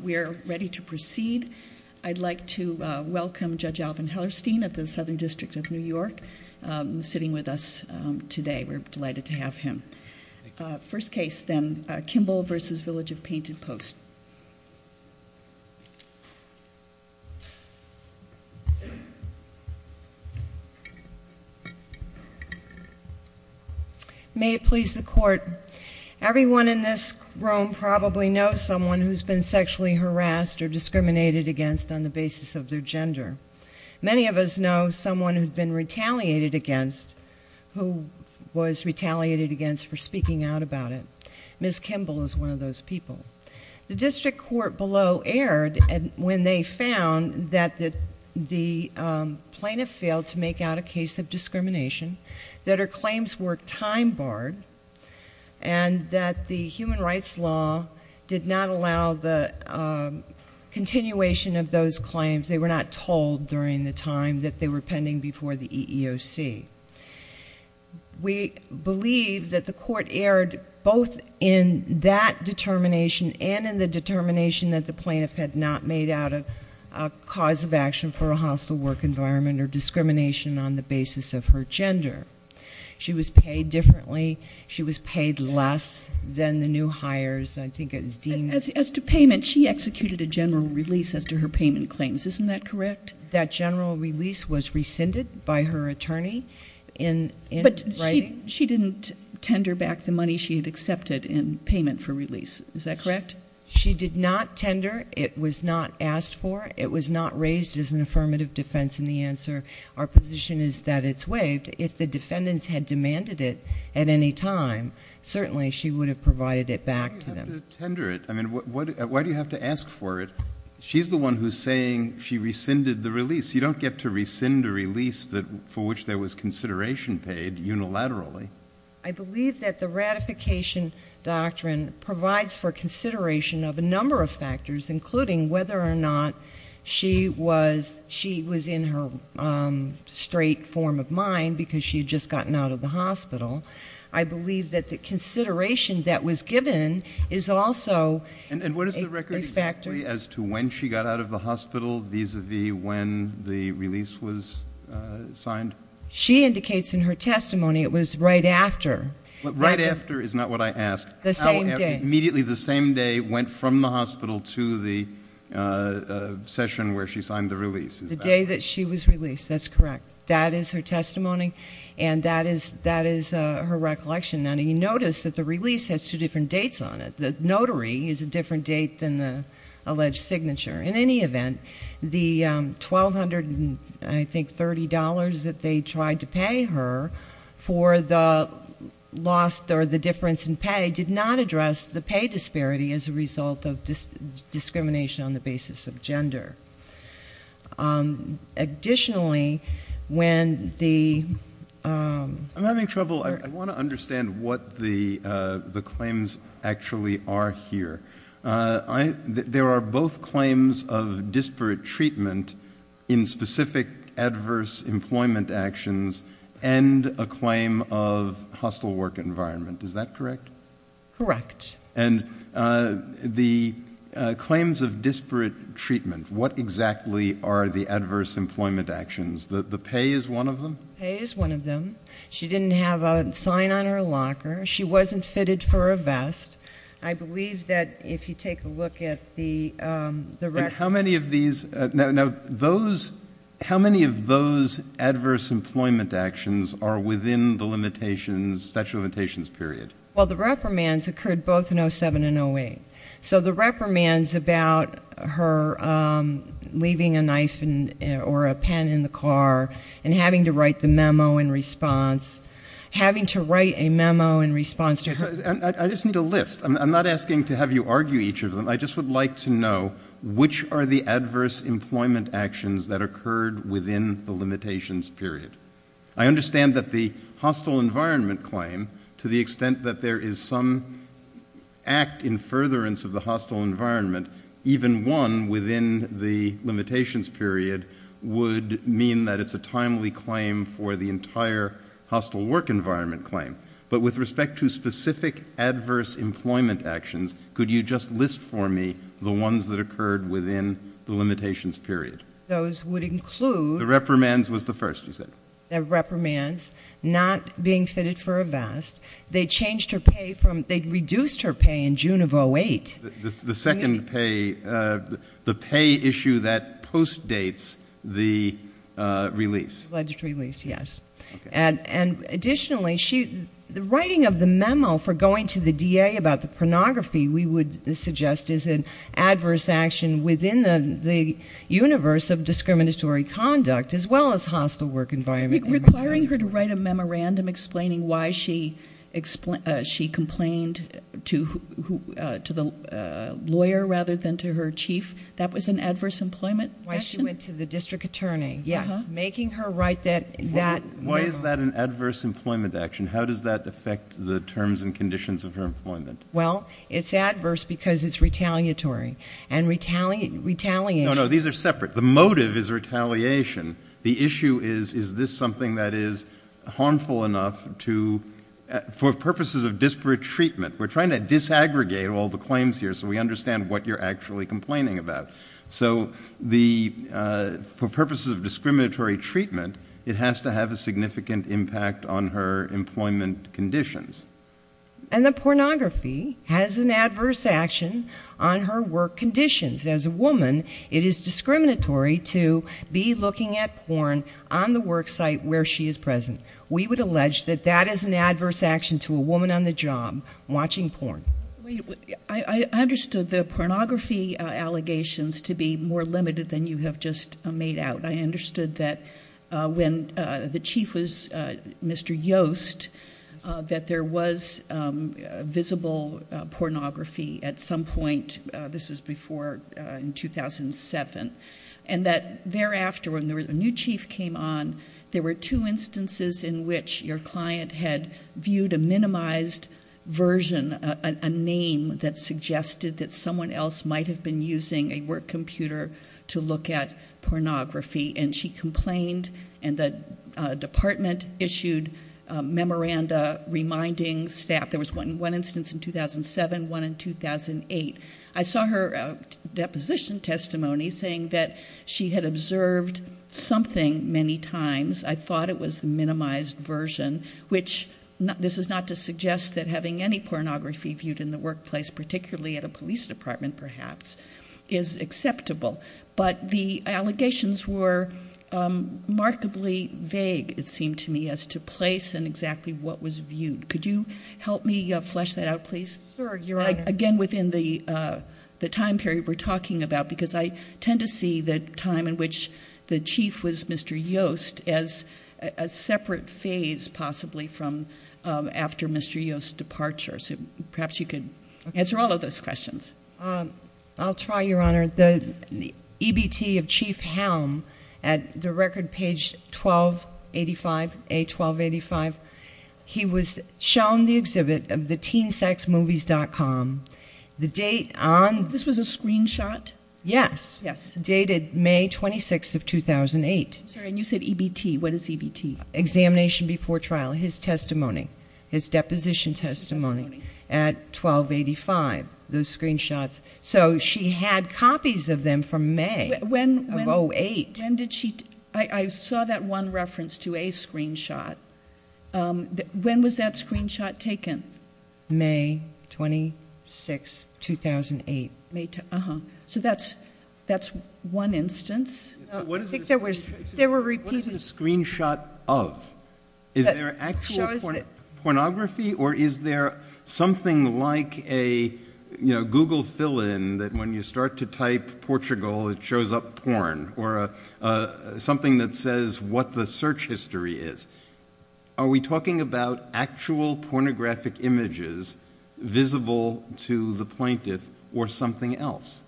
We are ready to proceed. I'd like to welcome Judge Alvin Hellerstein of the Southern District of New York, sitting with us today. We're delighted to have him. First case then, Kimball v. Village of Painted Post. May it please the court. Everyone in this room probably knows someone who's been sexually harassed or discriminated against on the basis of their gender. Many of us know someone who'd been retaliated against, who was retaliated against for speaking out about it. Ms. Kimball is one of those people. The district court below erred when they found that the plaintiff failed to make out a case of discrimination, that her claims were time-barred, and that the human rights law did not allow the continuation of those claims. They were not told during the time that they were pending before the EEOC. We believe that the court erred both in that determination and in the determination that the plaintiff had not made out a cause of action for a hostile work environment or discrimination on the basis of her gender. She was paid differently. She was paid less than the new hires. I think it was deemed... As to payment, she executed a general release as to her payment claims. Isn't that correct? That general release was rescinded by her attorney in writing. But she didn't tender back the money she had accepted in payment for release. Is that correct? She did not tender. It was not asked for. It was not raised as an affirmative defense in the answer. Our position is that it's waived. If the defendants had demanded it at any time, certainly she would have provided it back to them. Why do you have to tender it? I mean, why do you have to ask for it? She's the one who's saying she rescinded the release. You don't get to rescind a release for which there was consideration paid unilaterally. I believe that the ratification doctrine provides for consideration of a number of factors, including whether or not she was in her straight form of mind because she had just gotten out of the hospital. I believe that the consideration that was given is also... And what is the record exactly as to when she got out of the hospital vis-à-vis when the release was signed? She indicates in her testimony it was right after. Right after is not what I asked. The same day. Immediately the same day went from the hospital to the session where she signed the release. Is that correct? The day that she was released. That's correct. That is her testimony, and that is her recollection. Now, you notice that the release has two different dates on it. The notary is a different date than the alleged signature. In any event, the $1,230 that they tried to pay her for the loss or the difference in pay did not address the pay disparity as a result of discrimination on the basis of gender. Additionally, when the... I'm having trouble. I want to understand what the claims actually are here. There are both claims of disparate treatment in specific adverse employment actions and a claim of hostile work environment. Is that correct? Correct. And the claims of disparate treatment, what exactly are the adverse employment actions? The pay is one of them? Pay is one of them. She didn't have a sign on her locker. She wasn't fitted for a vest. I believe that if you take a look at the... How many of these... now, those... how many of those adverse employment actions are within the limitations, statute of limitations period? Well, the reprimands occurred both in 07 and 08. So the reprimands about her leaving a knife or a pen in the car and having to write the memo in response, having to write a memo in response to her... I just need a list. I'm not asking to have you argue each of them. I just would like to know which are the adverse employment actions that occurred within the limitations period. I understand that the hostile environment claim, to the extent that there is some act in furtherance of the hostile environment, even one within the limitations period would mean that it's a timely claim for the entire hostile work environment claim. But with respect to specific adverse employment actions, could you just list for me the ones that occurred within the limitations period? The reprimands was the first, you said. The reprimands, not being fitted for a vest. They changed her pay from... they reduced her pay in June of 08. The second pay, the pay issue that postdates the release. Yes. And additionally, the writing of the memo for going to the DA about the pornography we would suggest is an adverse action within the universe of discriminatory conduct as well as hostile work environment. Requiring her to write a memorandum explaining why she complained to the lawyer rather than to her chief, that was an adverse employment action? Why she went to the district attorney, yes. Making her write that memo. Why is that an adverse employment action? How does that affect the terms and conditions of her employment? Well, it's adverse because it's retaliatory. And retaliation... No, no, these are separate. The motive is retaliation. The issue is, is this something that is harmful enough to... for purposes of disparate treatment. We're trying to disaggregate all the claims here so we understand what you're actually complaining about. So, the... for purposes of discriminatory treatment, it has to have a significant impact on her employment conditions. And the pornography has an adverse action on her work conditions. As a woman, it is discriminatory to be looking at porn on the work site where she is present. We would allege that that is an adverse action to a woman on the job watching porn. I understood the pornography allegations to be more limited than you have just made out. I understood that when the chief was Mr. Yost, that there was visible pornography at some point. This was before... in 2007. And that thereafter when the new chief came on, there were two instances in which your client had viewed a minimized version... a name that suggested that someone else might have been using a work computer to look at pornography. And, she complained and the department issued a memoranda reminding staff. There was one instance in 2007, one in 2008. I saw her deposition testimony saying that she had observed something many times. I thought it was the minimized version, which this is not to suggest that having any pornography viewed in the workplace... particularly at a police department, perhaps, is acceptable. But, the allegations were remarkably vague, it seemed to me, as to place and exactly what was viewed. Could you help me flesh that out, please? Again, within the time period we're talking about, because I tend to see the time in which the chief was Mr. Yost... as a separate phase, possibly from after Mr. Yost's departure. So, perhaps you could answer all of those questions. I'll try, Your Honor. The EBT of Chief Helm at the record page 1285, A1285. He was shown the exhibit of the teensexmovies.com. The date on... This was a screenshot? Yes. Yes. Dated May 26th of 2008. And, you said EBT. What is EBT? Examination Before Trial, his testimony, his deposition testimony at A1285, those screenshots. So, she had copies of them from May of 2008. When did she... I saw that one reference to a screenshot. When was that screenshot taken? May 26th, 2008. Uh-huh. So, that's one instance. I think there were... What is the screenshot of? Is there actual pornography, or is there something like a Google fill-in, that when you start to type Portugal, it shows up porn? Or something that says what the search history is. Are we talking about actual pornographic images visible to the plaintiff, or something else?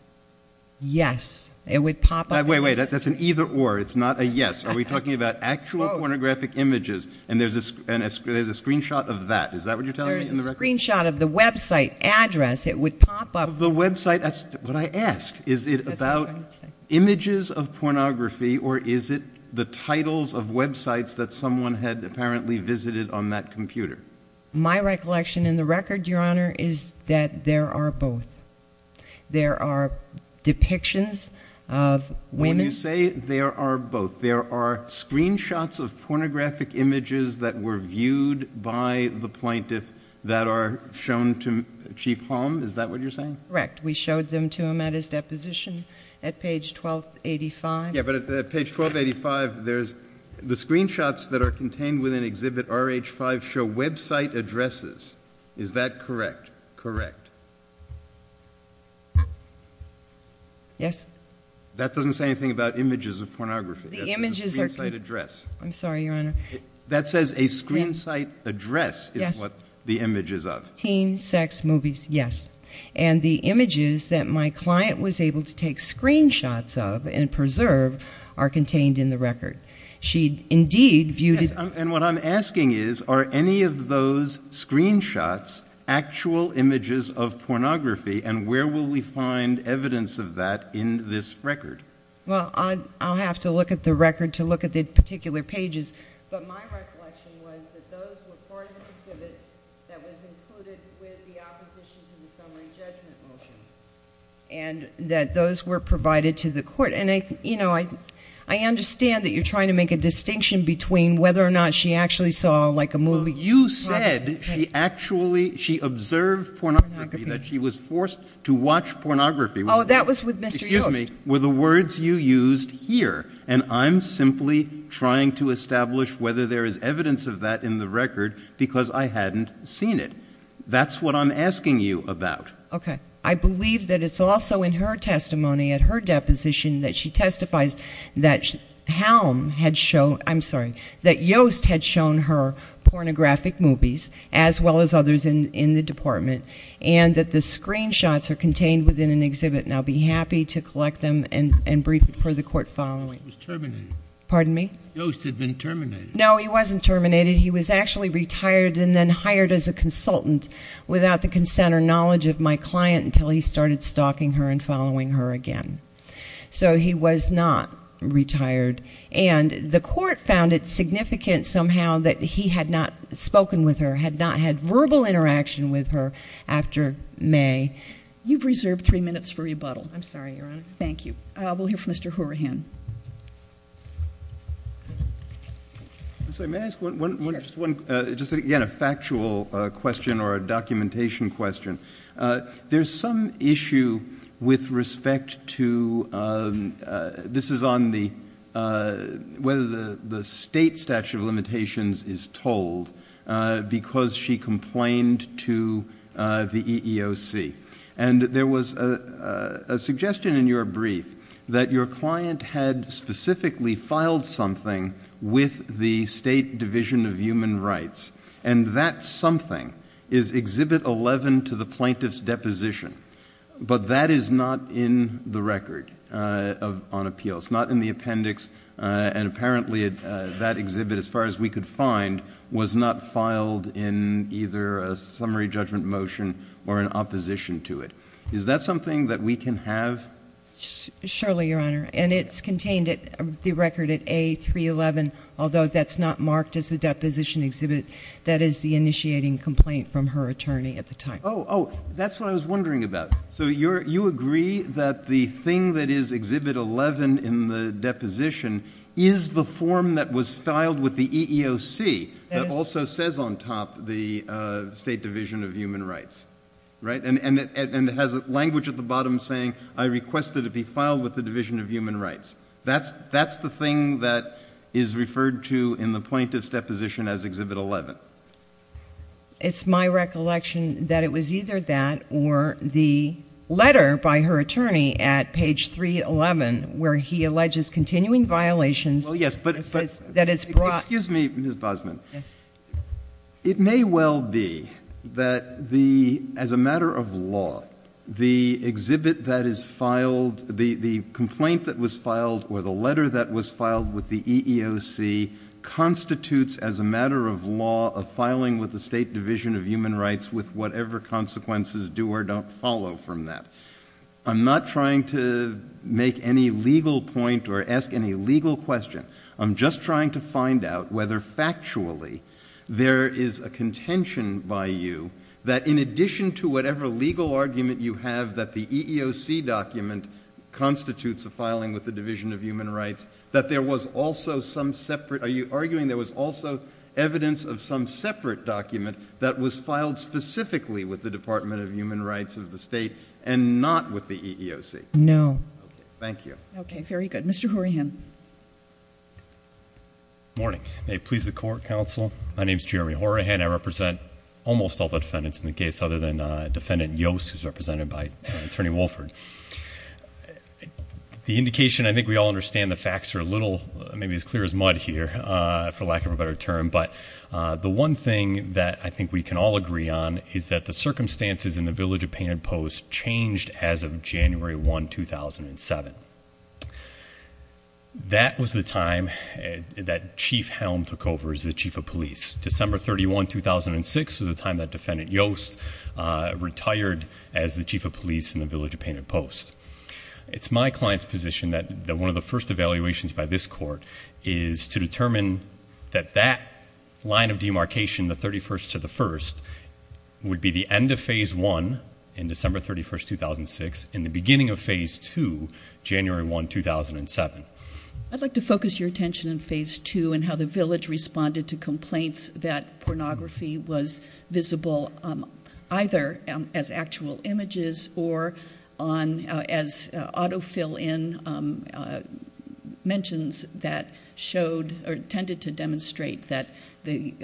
Yes. It would pop up... Wait, wait. That's an either or. It's not a yes. Are we talking about actual pornographic images, and there's a screenshot of that? Is that what you're telling me? There's a screenshot of the website address. It would pop up... Of the website. That's what I ask. Is it about images of pornography, or is it the titles of websites that someone had apparently visited on that computer? My recollection in the record, Your Honor, is that there are both. There are depictions of women... When you say there are both, there are screenshots of pornographic images that were viewed by the plaintiff that are shown to Chief Holm? Is that what you're saying? Correct. We showed them to him at his deposition at page 1285. Yeah, but at page 1285, there's... The screenshots that are contained within Exhibit RH-5 show website addresses. Is that correct? Correct. Yes. That doesn't say anything about images of pornography. The images are... That's a screen site address. I'm sorry, Your Honor. That says a screen site address is what the image is of. Yes. Teen, sex, movies. Yes. And the images that my client was able to take screenshots of and preserve are contained in the record. She indeed viewed... And what I'm asking is, are any of those screenshots actual images of pornography, and where will we find evidence of that in this record? Well, I'll have to look at the record to look at the particular pages. But my recollection was that those were part of the exhibit that was included with the opposition to the summary judgment motion, and that those were provided to the court. And I understand that you're trying to make a distinction between whether or not she actually saw like a movie... Well, you said she observed pornography, that she was forced to watch pornography. Oh, that was with Mr. Yost. Excuse me. Those were the words you used here. And I'm simply trying to establish whether there is evidence of that in the record, because I hadn't seen it. That's what I'm asking you about. Okay. I believe that it's also in her testimony, at her deposition, that she testifies that Helm had shown... I'm sorry, that Yost had shown her pornographic movies, as well as others in the department, and that the screenshots are contained within an exhibit. And I'll be happy to collect them and brief it for the court following. Yost was terminated. Pardon me? Yost had been terminated. No, he wasn't terminated. He was actually retired and then hired as a consultant, without the consent or knowledge of my client, until he started stalking her and following her again. So, he was not retired. And, the court found it significant, somehow, that he had not spoken with her, had not had verbal interaction with her, after May. You've reserved three minutes for rebuttal. I'm sorry, Your Honor. Thank you. We'll hear from Mr. Horahan. May I ask one... Sure. Just again, a factual question or a documentation question. There's some issue with respect to... This is on the... whether the state statute of limitations is told, because she complained to the EEOC. And, there was a suggestion in your brief, that your client had specifically filed something with the State Division of Human Rights. And, that something is Exhibit 11 to the plaintiff's deposition. But, that is not in the record on appeals, not in the appendix. And, apparently, that exhibit, as far as we could find, was not filed in either a summary judgment motion or in opposition to it. Is that something that we can have? Surely, Your Honor. And, it's contained in the record at A311, although that's not marked as a deposition exhibit. That is the initiating complaint from her attorney at the time. Oh, oh. That's what I was wondering about. So, you agree that the thing that is Exhibit 11 in the deposition is the form that was filed with the EEOC... That is...... that also says on top, the State Division of Human Rights. Right? And, it has language at the bottom saying, I request that it be filed with the Division of Human Rights. That's the thing that is referred to in the plaintiff's deposition as Exhibit 11. It's my recollection that it was either that or the letter by her attorney at page 311, where he alleges continuing violations... Well, yes, but...... that it's brought... Excuse me, Ms. Bosman. Yes. It may well be that the, as a matter of law, the exhibit that is filed... the complaint that was filed or the letter that was filed with the EEOC... constitutes as a matter of law, a filing with the State Division of Human Rights with whatever consequences do or don't follow from that. I'm not trying to make any legal point or ask any legal question. I'm just trying to find out whether factually, there is a contention by you that in addition to whatever legal argument you have... that the EEOC document constitutes a filing with the Division of Human Rights... that there was also some separate... Are you arguing there was also evidence of some separate document that was filed specifically with the Department of Human Rights of the State... and not with the EEOC? No. Okay. Thank you. Okay. Very good. Mr. Horahan. Good morning. May it please the Court, Counsel. My name is Jeremy Horahan. I represent almost all the defendants in the case, other than Defendant Yost, who is represented by Attorney Wolford. The indication, I think we all understand the facts are a little, maybe as clear as mud here, for lack of a better term. But, the one thing that I think we can all agree on is that the circumstances in the Village of Painted Post changed as of January 1, 2007. That was the time that Chief Helm took over as the Chief of Police. December 31, 2006 was the time that Defendant Yost retired as the Chief of Police in the Village of Painted Post. It's my client's position that one of the first evaluations by this Court is to determine that that line of demarcation, the 31st to the 1st, would be the end of Phase 1 in December 31, 2006 and the beginning of Phase 2, January 1, 2007. I'd like to focus your attention on Phase 2 and how the Village responded to complaints that pornography was visible either as actual images or as auto-fill-in mentions that tended to demonstrate that the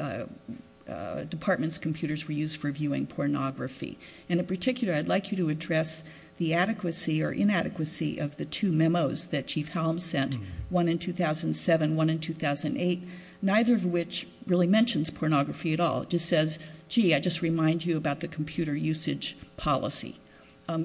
Department's computers were used for viewing pornography. In particular, I'd like you to address the adequacy or inadequacy of the two memos that Chief Helm sent, one in 2007, one in 2008, neither of which really mentions pornography at all. It just says, gee, I just remind you about the computer usage policy.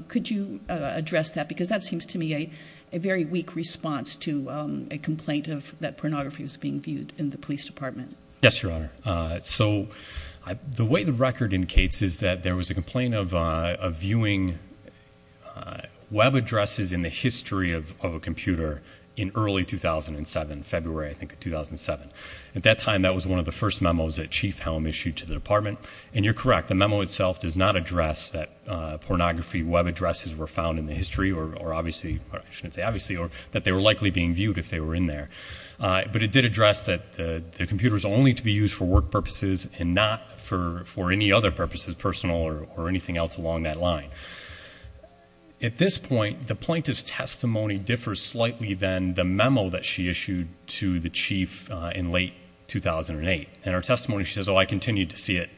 Could you address that? Because that seems to me a very weak response to a complaint that pornography was being viewed in the Police Department. Yes, Your Honor. So the way the record indicates is that there was a complaint of viewing web addresses in the history of a computer in early 2007, February, I think, of 2007. At that time, that was one of the first memos that Chief Helm issued to the Department. And you're correct, the memo itself does not address that pornography web addresses were found in the history, or obviously, or I shouldn't say obviously, that they were likely being viewed if they were in there. But it did address that the computer is only to be used for work purposes and not for any other purposes, personal or anything else along that line. At this point, the plaintiff's testimony differs slightly than the memo that she issued to the Chief in late 2008. In her testimony, she says, oh, I continue to see it,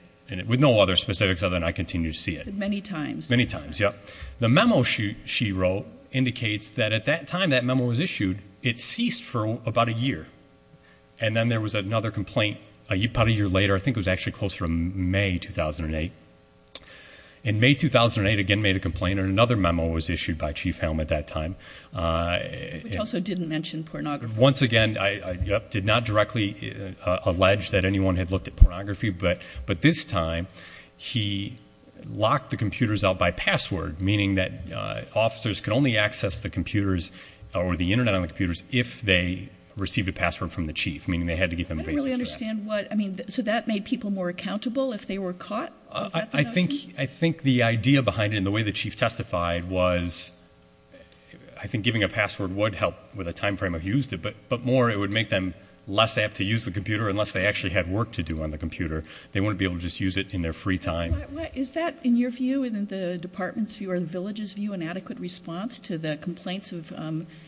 with no other specifics other than I continue to see it. She said many times. Many times, yeah. The memo she wrote indicates that at that time that memo was issued, it ceased for about a year. And then there was another complaint about a year later, I think it was actually closer to May 2008. In May 2008, again made a complaint, and another memo was issued by Chief Helm at that time. Which also didn't mention pornography. Once again, I did not directly allege that anyone had looked at pornography. But this time, he locked the computers out by password. Meaning that officers could only access the computers or the Internet on the computers if they received a password from the Chief. Meaning they had to give them a basis for that. I don't really understand what, I mean, so that made people more accountable if they were caught? Was that the notion? I think the idea behind it and the way the Chief testified was, I think giving a password would help with a time frame of use. But more, it would make them less apt to use the computer unless they actually had work to do on the computer. They wouldn't be able to just use it in their free time. Is that, in your view, in the department's view or the village's view, an adequate response to the complaints of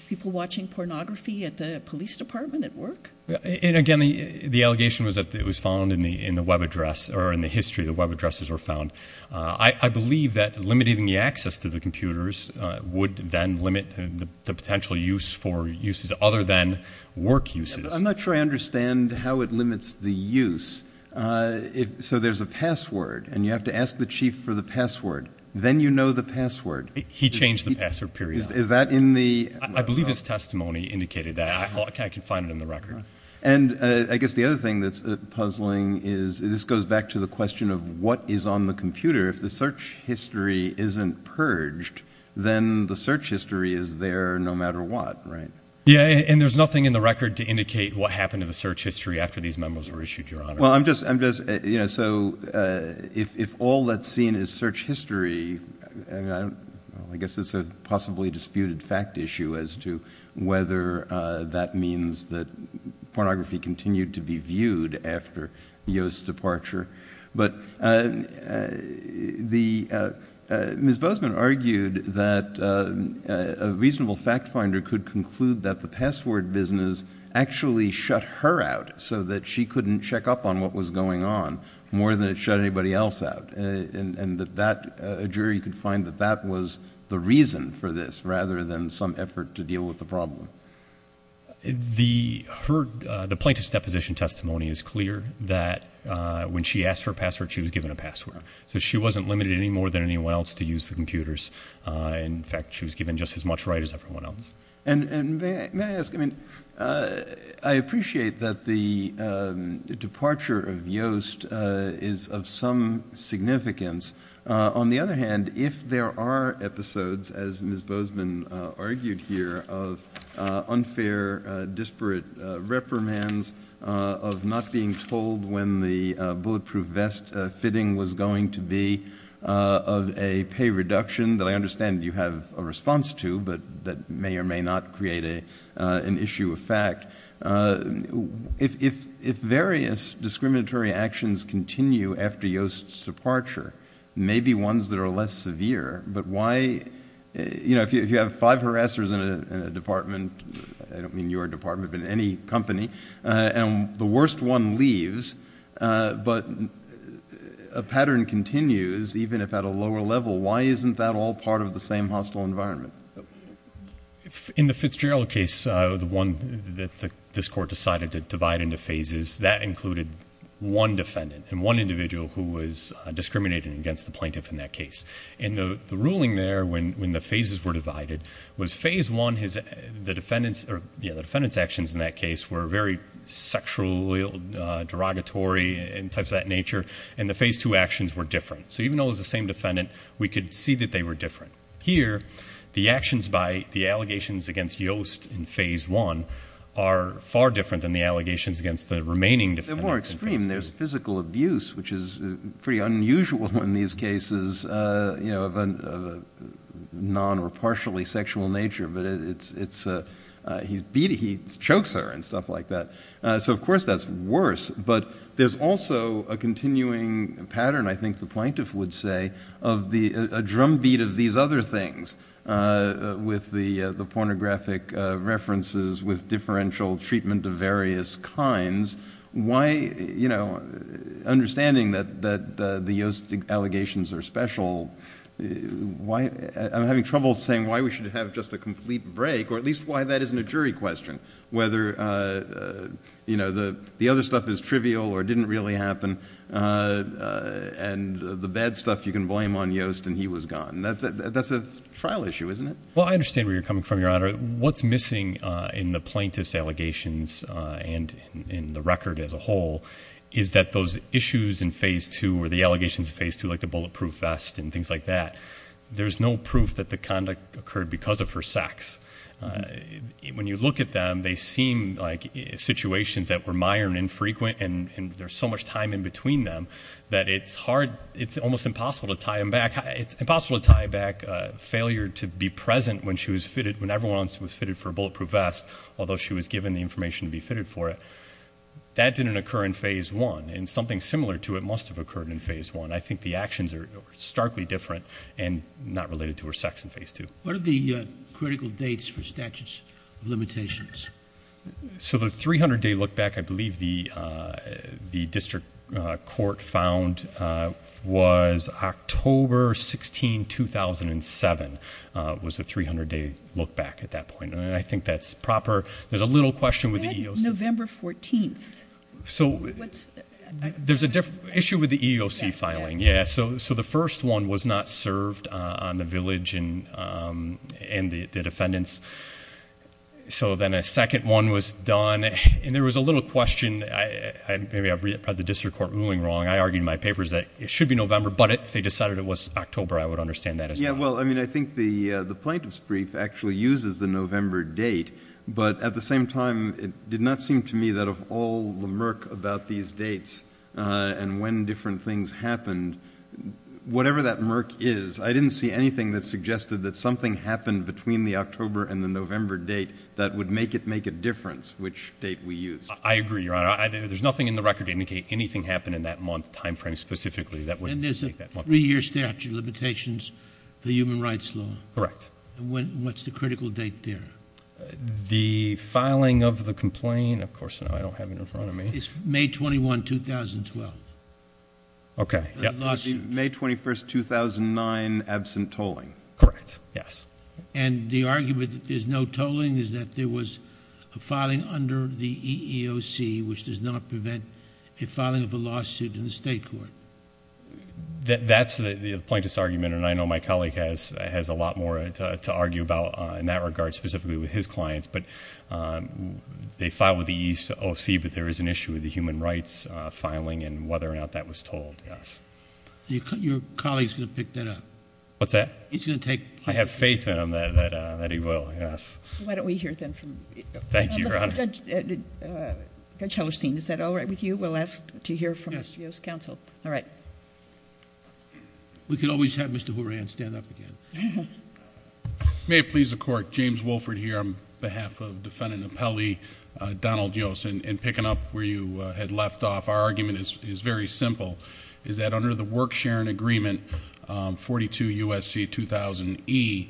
people watching pornography at the police department at work? And again, the allegation was that it was found in the web address, or in the history the web addresses were found. I believe that limiting the access to the computers would then limit the potential use for uses other than work uses. I'm not sure I understand how it limits the use. So there's a password, and you have to ask the Chief for the password. Then you know the password. He changed the password, period. Is that in the… I believe his testimony indicated that. I can find it in the record. And I guess the other thing that's puzzling is this goes back to the question of what is on the computer. If the search history isn't purged, then the search history is there no matter what, right? Yeah, and there's nothing in the record to indicate what happened to the search history after these memos were issued, Your Honor. Well, I'm just – so if all that's seen is search history, I guess it's a possibly disputed fact issue as to whether that means that pornography continued to be viewed after Yo's departure. But Ms. Bozeman argued that a reasonable fact finder could conclude that the password business actually shut her out so that she couldn't check up on what was going on more than it shut anybody else out, and that a jury could find that that was the reason for this rather than some effort to deal with the problem. The plaintiff's deposition testimony is clear that when she asked for a password, she was given a password. So she wasn't limited any more than anyone else to use the computers. In fact, she was given just as much right as everyone else. And may I ask – I mean, I appreciate that the departure of Yoast is of some significance. On the other hand, if there are episodes, as Ms. Bozeman argued here, of unfair, disparate reprimands, of not being told when the bulletproof vest fitting was going to be, of a pay reduction that I understand you have a response to but that may or may not create an issue of fact, if various discriminatory actions continue after Yoast's departure, maybe ones that are less severe, but why – you know, if you have five harassers in a department, I don't mean your department but any company, and the worst one leaves but a pattern continues even if at a lower level, why isn't that all part of the same hostile environment? In the Fitzgerald case, the one that this Court decided to divide into phases, that included one defendant and one individual who was discriminated against the plaintiff in that case. And the ruling there when the phases were divided was phase one, the defendant's actions in that case were very sexually derogatory and types of that nature, and the phase two actions were different. So even though it was the same defendant, we could see that they were different. Here, the actions by the allegations against Yoast in phase one are far different than the allegations against the remaining defendants. They're more extreme. There's physical abuse, which is pretty unusual in these cases, you know, of a non or partially sexual nature, but it's – he chokes her and stuff like that. So of course that's worse, but there's also a continuing pattern, I think the plaintiff would say, of the – a drumbeat of these other things with the pornographic references with differential treatment of various kinds. Why, you know, understanding that the Yoast allegations are special, why – I'm having trouble saying why we should have just a complete break, or at least why that isn't a jury question. Whether, you know, the other stuff is trivial or didn't really happen, and the bad stuff you can blame on Yoast and he was gone. That's a trial issue, isn't it? Well, I understand where you're coming from, Your Honor. What's missing in the plaintiff's allegations and in the record as a whole is that those issues in phase two or the allegations in phase two, like the bulletproof vest and things like that, there's no proof that the conduct occurred because of her sex. When you look at them, they seem like situations that were minor and infrequent and there's so much time in between them that it's hard – it's almost impossible to tie them back. It's impossible to tie back failure to be present when she was fitted – when everyone else was fitted for a bulletproof vest, although she was given the information to be fitted for it. That didn't occur in phase one, and something similar to it must have occurred in phase one. I think the actions are starkly different and not related to her sex in phase two. What are the critical dates for statutes of limitations? The 300-day look-back, I believe the district court found was October 16, 2007 was the 300-day look-back at that point. I think that's proper. There's a little question with the EEOC. November 14th. There's an issue with the EEOC filing. The first one was not served on the village and the defendants, so then a second one was done. There was a little question – maybe I've read the district court ruling wrong. I argued in my papers that it should be November, but they decided it was October. I would understand that as well. I think the plaintiff's brief actually uses the November date, but at the same time, it did not seem to me that of all the murk about these dates and when different things happened, whatever that murk is, I didn't see anything that suggested that something happened between the October and the November date that would make it make a difference which date we used. I agree, Your Honor. There's nothing in the record to indicate anything happened in that month timeframe specifically that wouldn't make that murk. And there's a three-year statute of limitations for human rights law. Correct. What's the critical date there? The filing of the complaint, of course, I don't have it in front of me. It's May 21, 2012. Okay. May 21, 2009, absent tolling. Correct. Yes. And the argument that there's no tolling is that there was a filing under the EEOC which does not prevent a filing of a lawsuit in the state court. That's the plaintiff's argument, and I know my colleague has a lot more to argue about in that regard, specifically with his clients. But they filed with the EEOC, but there is an issue with the human rights filing and whether or not that was tolled. Yes. Your colleague is going to pick that up. What's that? He's going to take... I have faith in him that he will, yes. Why don't we hear then from... Thank you, Your Honor. Judge Hellerstein, is that all right with you? We'll ask to hear from the studio's counsel. Yes. All right. We could always have Mr. Horan stand up again. May it please the Court. James Wolford here on behalf of Defendant Appellee Donald Yost. In picking up where you had left off, our argument is very simple, is that under the work-sharing agreement 42 U.S.C. 2000E,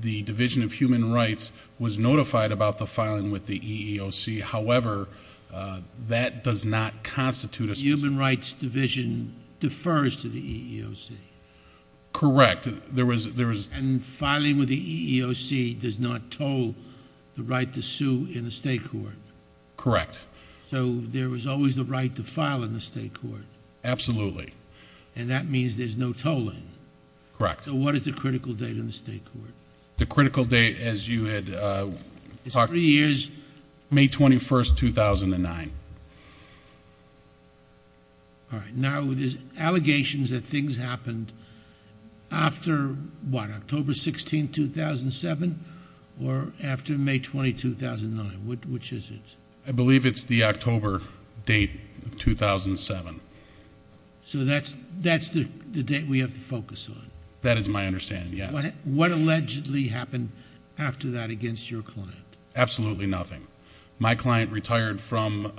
the Division of Human Rights was notified about the filing with the EEOC. However, that does not constitute... The Human Rights Division defers to the EEOC. Correct. And filing with the EEOC does not toll the right to sue in the state court? Correct. So there was always the right to file in the state court? Absolutely. And that means there's no tolling? Correct. So what is the critical date in the state court? The critical date, as you had talked... It's three years... May 21, 2009. All right. Now there's allegations that things happened after, what, October 16, 2007? Or after May 20, 2009? Which is it? I believe it's the October date of 2007. So that's the date we have to focus on? That is my understanding, yes. What allegedly happened after that against your client? Absolutely nothing. My client retired from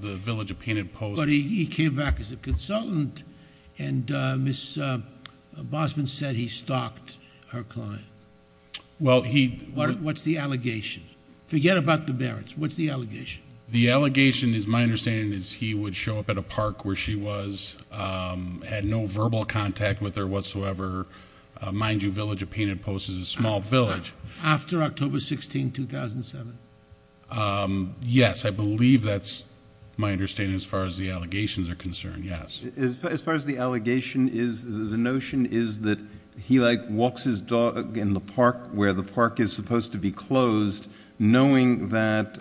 the Village of Painted Post... But he came back as a consultant, and Ms. Bosman said he stalked her client. Well, he... What's the allegation? Forget about the Barretts. What's the allegation? The allegation is my understanding is he would show up at a park where she was, had no verbal contact with her whatsoever. Mind you, Village of Painted Post is a small village. After October 16, 2007? Yes, I believe that's my understanding as far as the allegations are concerned, yes. As far as the allegation is, the notion is that he, like, walks his dog in the park where the park is supposed to be closed, knowing that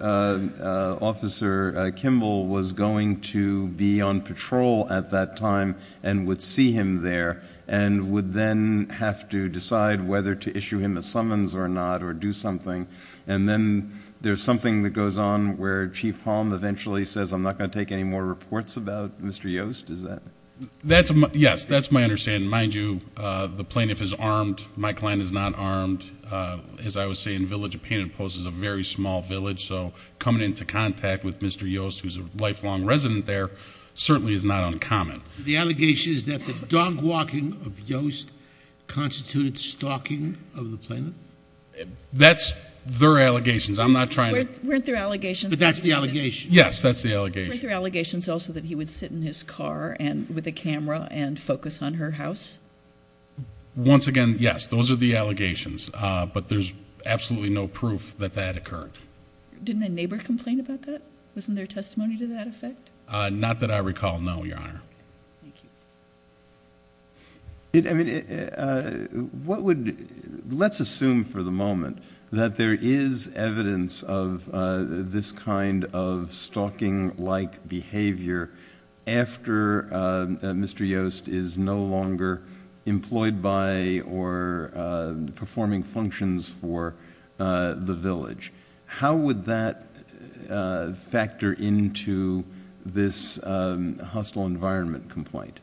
Officer Kimball was going to be on patrol at that time and would see him there, and would then have to decide whether to issue him a summons or not or do something. And then there's something that goes on where Chief Palm eventually says, I'm not going to take any more reports about Mr. Yost. Is that... Yes, that's my understanding. Mind you, the plaintiff is armed. My client is not armed. As I was saying, Village of Painted Post is a very small village, so coming into contact with Mr. Yost, who's a lifelong resident there, certainly is not uncommon. The allegation is that the dog walking of Yost constituted stalking of the plaintiff? That's their allegations. I'm not trying to... Weren't there allegations... But that's the allegation. Yes, that's the allegation. Weren't there allegations also that he would sit in his car with a camera and focus on her house? Once again, yes, those are the allegations, but there's absolutely no proof that that occurred. Didn't a neighbor complain about that? Wasn't there testimony to that effect? Not that I recall, no, Your Honor. Thank you. Let's assume for the moment that there is evidence of this kind of stalking-like behavior after Mr. Yost is no longer employed by or performing functions for the village. How would that factor into this hostile environment complaint?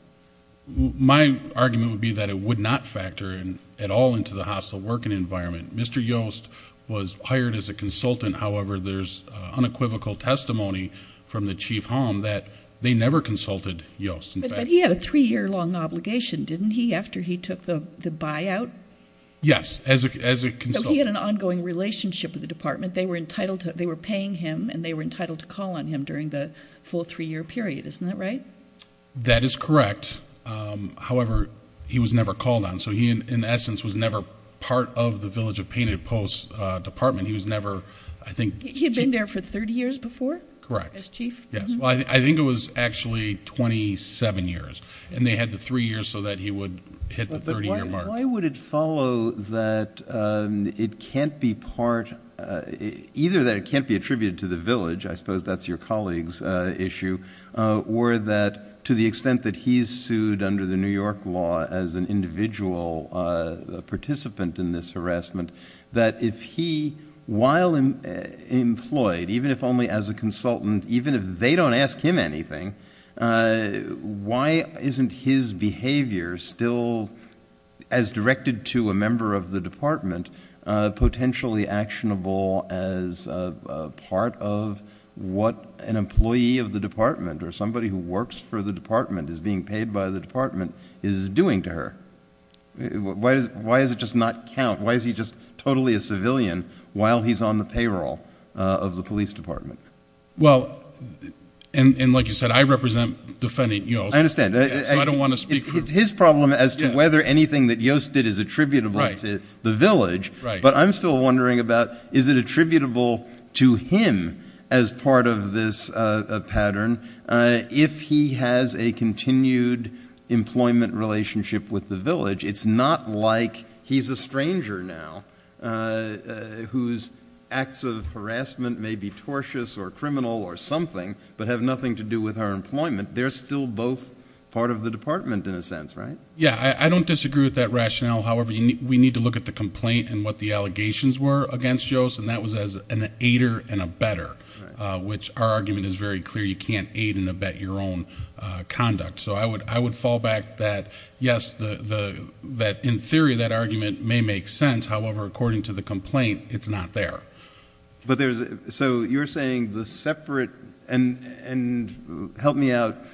My argument would be that it would not factor at all into the hostile working environment. Mr. Yost was hired as a consultant. However, there's unequivocal testimony from the chief home that they never consulted Yost. But he had a three-year-long obligation, didn't he, after he took the buyout? Yes, as a consultant. He had an ongoing relationship with the department. They were paying him, and they were entitled to call on him during the full three-year period. Isn't that right? That is correct. However, he was never called on. So he, in essence, was never part of the Village of Painted Posts Department. He was never, I think, chief. He had been there for 30 years before? Correct. As chief? Yes. Well, I think it was actually 27 years. And they had the three years so that he would hit the 30-year mark. Why would it follow that it can't be part, either that it can't be attributed to the village, I suppose that's your colleague's issue, or that to the extent that he is sued under the New York law as an individual participant in this harassment, that if he, while employed, even if only as a consultant, even if they don't ask him anything, why isn't his behavior still, as directed to a member of the department, potentially actionable as part of what an employee of the department or somebody who works for the department, is being paid by the department, is doing to her? Why does it just not count? Why is he just totally a civilian while he's on the payroll of the police department? Well, and like you said, I represent Defendant Yost. I understand. So I don't want to speak for him. It's his problem as to whether anything that Yost did is attributable to the village. Right. But I'm still wondering about is it attributable to him as part of this pattern if he has a continued employment relationship with the village? It's not like he's a stranger now whose acts of harassment may be tortious or criminal or something but have nothing to do with her employment. They're still both part of the department in a sense, right? Yeah. I don't disagree with that rationale. However, we need to look at the complaint and what the allegations were against Yost, and that was as an aider and a better, which our argument is very clear. You can't aid and abet your own conduct. So I would fall back that, yes, in theory that argument may make sense. However, according to the complaint, it's not there. So you're saying the separate – and help me out –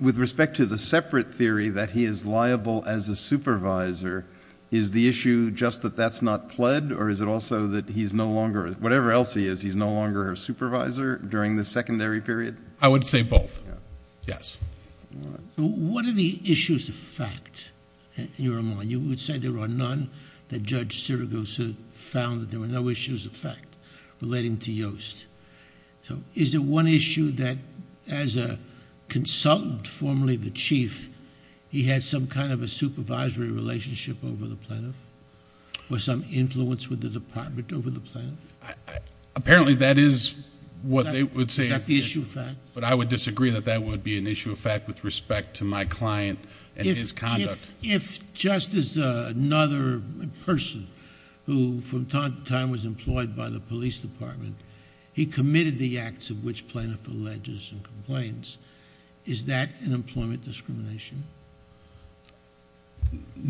with respect to the separate theory that he is liable as a supervisor, is the issue just that that's not pled or is it also that he's no longer, whatever else he is, he's no longer her supervisor during the secondary period? I would say both, yes. All right. What are the issues of fact in your mind? You would say there are none that Judge Sirigusa found that there were no issues of fact relating to Yost. So is it one issue that as a consultant, formerly the chief, he had some kind of a supervisory relationship over the plaintiff or some influence with the department over the plaintiff? Apparently that is what they would say. Is that the issue of fact? But I would disagree that that would be an issue of fact with respect to my client and his conduct. If just as another person who from time to time was employed by the police department, he committed the acts of which plaintiff alleges and complains, is that an employment discrimination?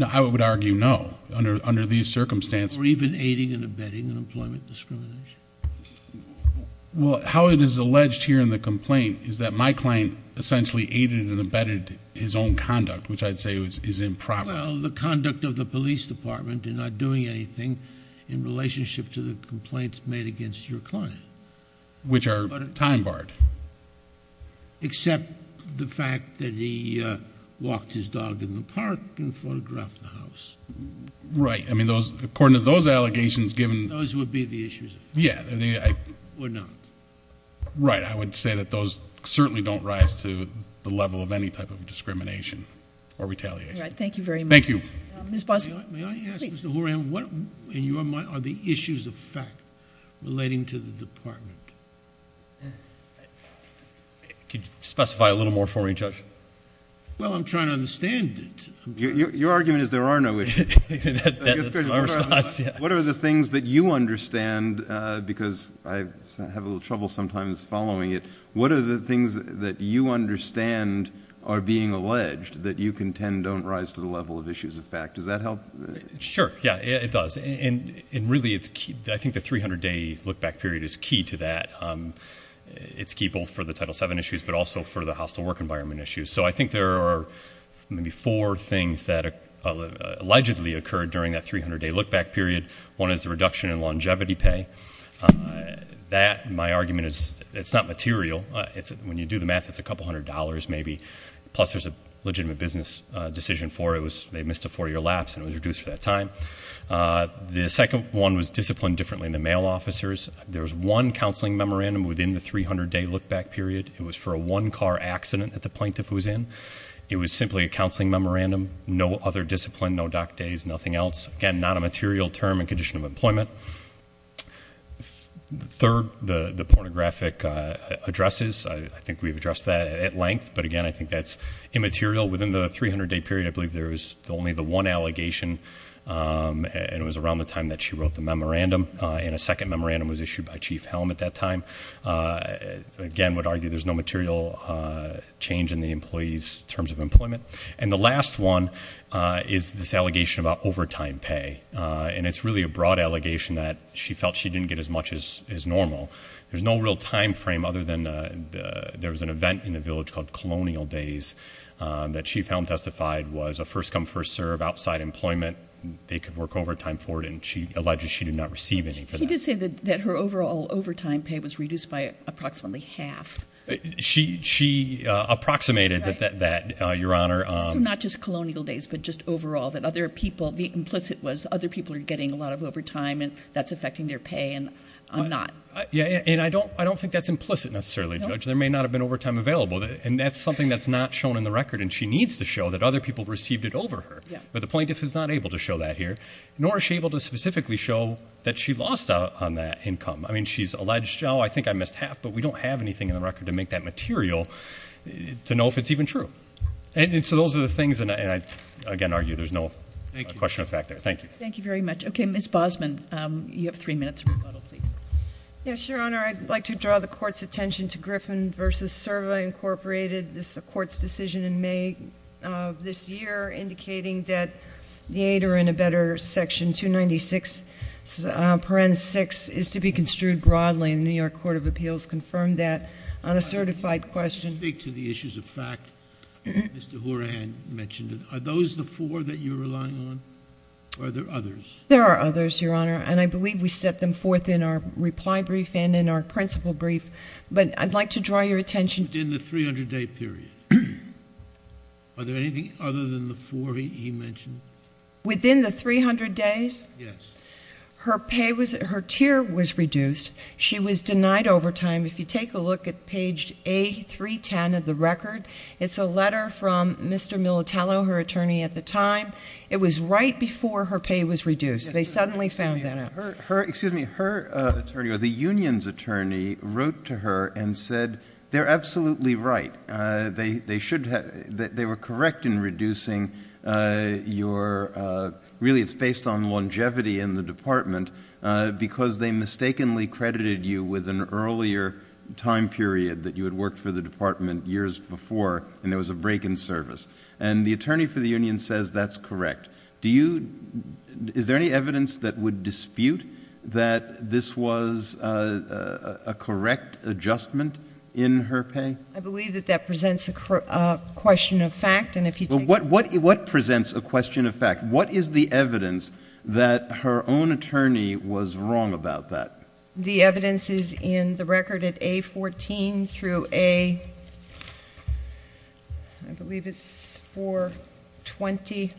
I would argue no under these circumstances. Or even aiding and abetting an employment discrimination? Well, how it is alleged here in the complaint is that my client essentially aided and abetted his own conduct, which I would say is improper. Well, the conduct of the police department in not doing anything in relationship to the complaints made against your client. Which are time barred. Except the fact that he walked his dog in the park and photographed the house. Right. I mean, according to those allegations given. Those would be the issues of fact. Yeah. Or not. Right. I would say that those certainly don't rise to the level of any type of discrimination or retaliation. Thank you very much. Thank you. May I ask, Mr. Horan, what in your mind are the issues of fact relating to the department? Could you specify a little more for me, Judge? Well, I'm trying to understand it. Your argument is there are no issues. That's my response, yeah. What are the things that you understand? Because I have a little trouble sometimes following it. What are the things that you understand are being alleged that you contend don't rise to the level of issues of fact? Does that help? Sure. Yeah, it does. And really, I think the 300-day look-back period is key to that. It's key both for the Title VII issues but also for the hostile work environment issues. So I think there are maybe four things that allegedly occurred during that 300-day look-back period. One is the reduction in longevity pay. That, in my argument, it's not material. When you do the math, it's a couple hundred dollars maybe, plus there's a legitimate business decision for it. They missed a four-year lapse and it was reduced for that time. The second one was discipline differently in the mail officers. There was one counseling memorandum within the 300-day look-back period. It was for a one-car accident at the plaintiff who was in. It was simply a counseling memorandum, no other discipline, no doc days, nothing else. Again, not a material term and condition of employment. Third, the pornographic addresses. I think we've addressed that at length, but, again, I think that's immaterial. Within the 300-day period, I believe there was only the one allegation, and it was around the time that she wrote the memorandum. And a second memorandum was issued by Chief Helm at that time. Again, would argue there's no material change in the employee's terms of employment. And the last one is this allegation about overtime pay. And it's really a broad allegation that she felt she didn't get as much as normal. There's no real time frame other than there was an event in the village called Colonial Days that Chief Helm testified was a first-come, first-serve, outside employment. They could work overtime for it, and she alleges she did not receive any for that. She did say that her overall overtime pay was reduced by approximately half. She approximated that, Your Honor. So not just Colonial Days, but just overall, that other people, the implicit was other people are getting a lot of overtime, and that's affecting their pay, and I'm not. Yeah, and I don't think that's implicit, necessarily, Judge. There may not have been overtime available. And that's something that's not shown in the record, and she needs to show that other people received it over her. But the plaintiff is not able to show that here, nor is she able to specifically show that she lost out on that income. I mean, she's alleged, oh, I think I missed half, but we don't have anything in the record to make that material to know if it's even true. And so those are the things, and I, again, argue there's no question of fact there. Thank you. Thank you very much. Okay, Ms. Bosman, you have three minutes for rebuttal, please. Yes, Your Honor. Your Honor, I'd like to draw the court's attention to Griffin v. Serva, Incorporated, this court's decision in May of this year, indicating that the aid, or in a better section, 296 paren 6 is to be construed broadly, and the New York Court of Appeals confirmed that on a certified question. To speak to the issues of fact, Mr. Horan mentioned it. Are those the four that you're relying on, or are there others? There are others, Your Honor. And I believe we set them forth in our reply brief and in our principal brief. But I'd like to draw your attention. Within the 300-day period, are there anything other than the four he mentioned? Within the 300 days? Yes. Her pay was, her tier was reduced. She was denied overtime. If you take a look at page A310 of the record, it's a letter from Mr. Militello, her attorney at the time. It was right before her pay was reduced. They suddenly found that out. Excuse me. Her attorney, or the union's attorney, wrote to her and said, they're absolutely right. They should have, they were correct in reducing your, really it's based on longevity in the department, because they mistakenly credited you with an earlier time period that you had worked for the department years before, and there was a break in service. And the attorney for the union says that's correct. Do you, is there any evidence that would dispute that this was a correct adjustment in her pay? I believe that that presents a question of fact, and if you take a look. What presents a question of fact? What is the evidence that her own attorney was wrong about that? The evidence is in the record at A14 through A, I believe it's 420,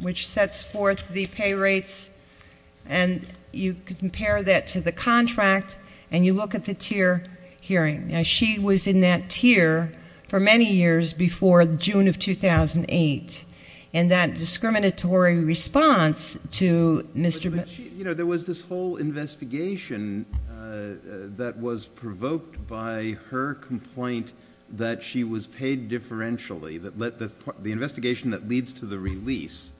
which sets forth the pay rates. And you compare that to the contract, and you look at the tier hearing. Now, she was in that tier for many years before June of 2008. And that discriminatory response to Mr. Mil- You know, there was this whole investigation that was provoked by her complaint that she was paid differentially, the investigation that leads to the release.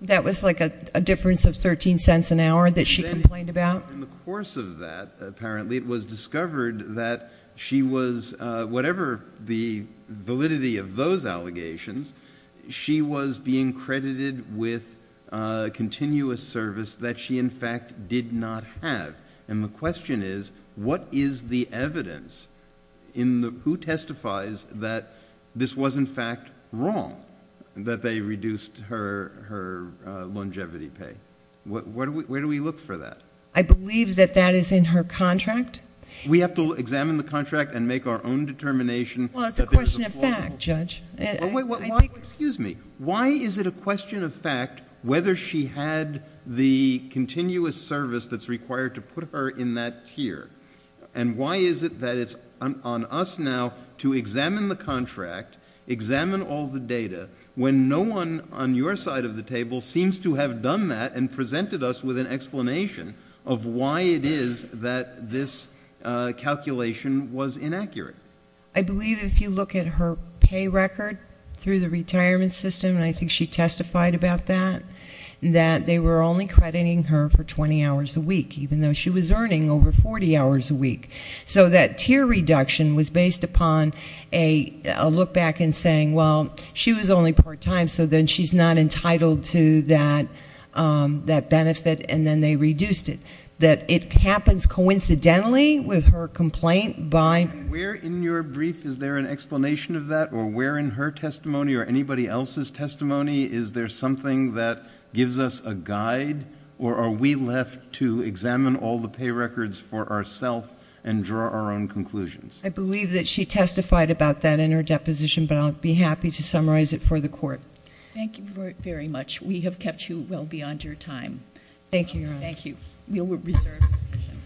That was like a difference of 13 cents an hour that she complained about? In the course of that, apparently, it was discovered that she was, whatever the validity of those allegations, she was being credited with continuous service that she, in fact, did not have. And the question is, what is the evidence in the... Who testifies that this was, in fact, wrong, that they reduced her longevity pay? Where do we look for that? I believe that that is in her contract. We have to examine the contract and make our own determination. Well, it's a question of fact, Judge. Excuse me. Why is it a question of fact whether she had the continuous service that's required to put her in that tier? And why is it that it's on us now to examine the contract, examine all the data, when no one on your side of the table seems to have done that and presented us with an explanation of why it is that this calculation was inaccurate? I believe if you look at her pay record through the retirement system, and I think she testified about that, that they were only crediting her for 20 hours a week, even though she was earning over 40 hours a week. So that tier reduction was based upon a look back and saying, well, she was only part-time, so then she's not entitled to that benefit, and then they reduced it. I believe that it happens coincidentally with her complaint by... And where in your brief is there an explanation of that, or where in her testimony, or anybody else's testimony is there something that gives us a guide, or are we left to examine all the pay records for ourself and draw our own conclusions? I believe that she testified about that in her deposition, but I'll be happy to summarize it for the Court. Thank you very much. Thank you, Your Honor. Thank you. We will reserve the position.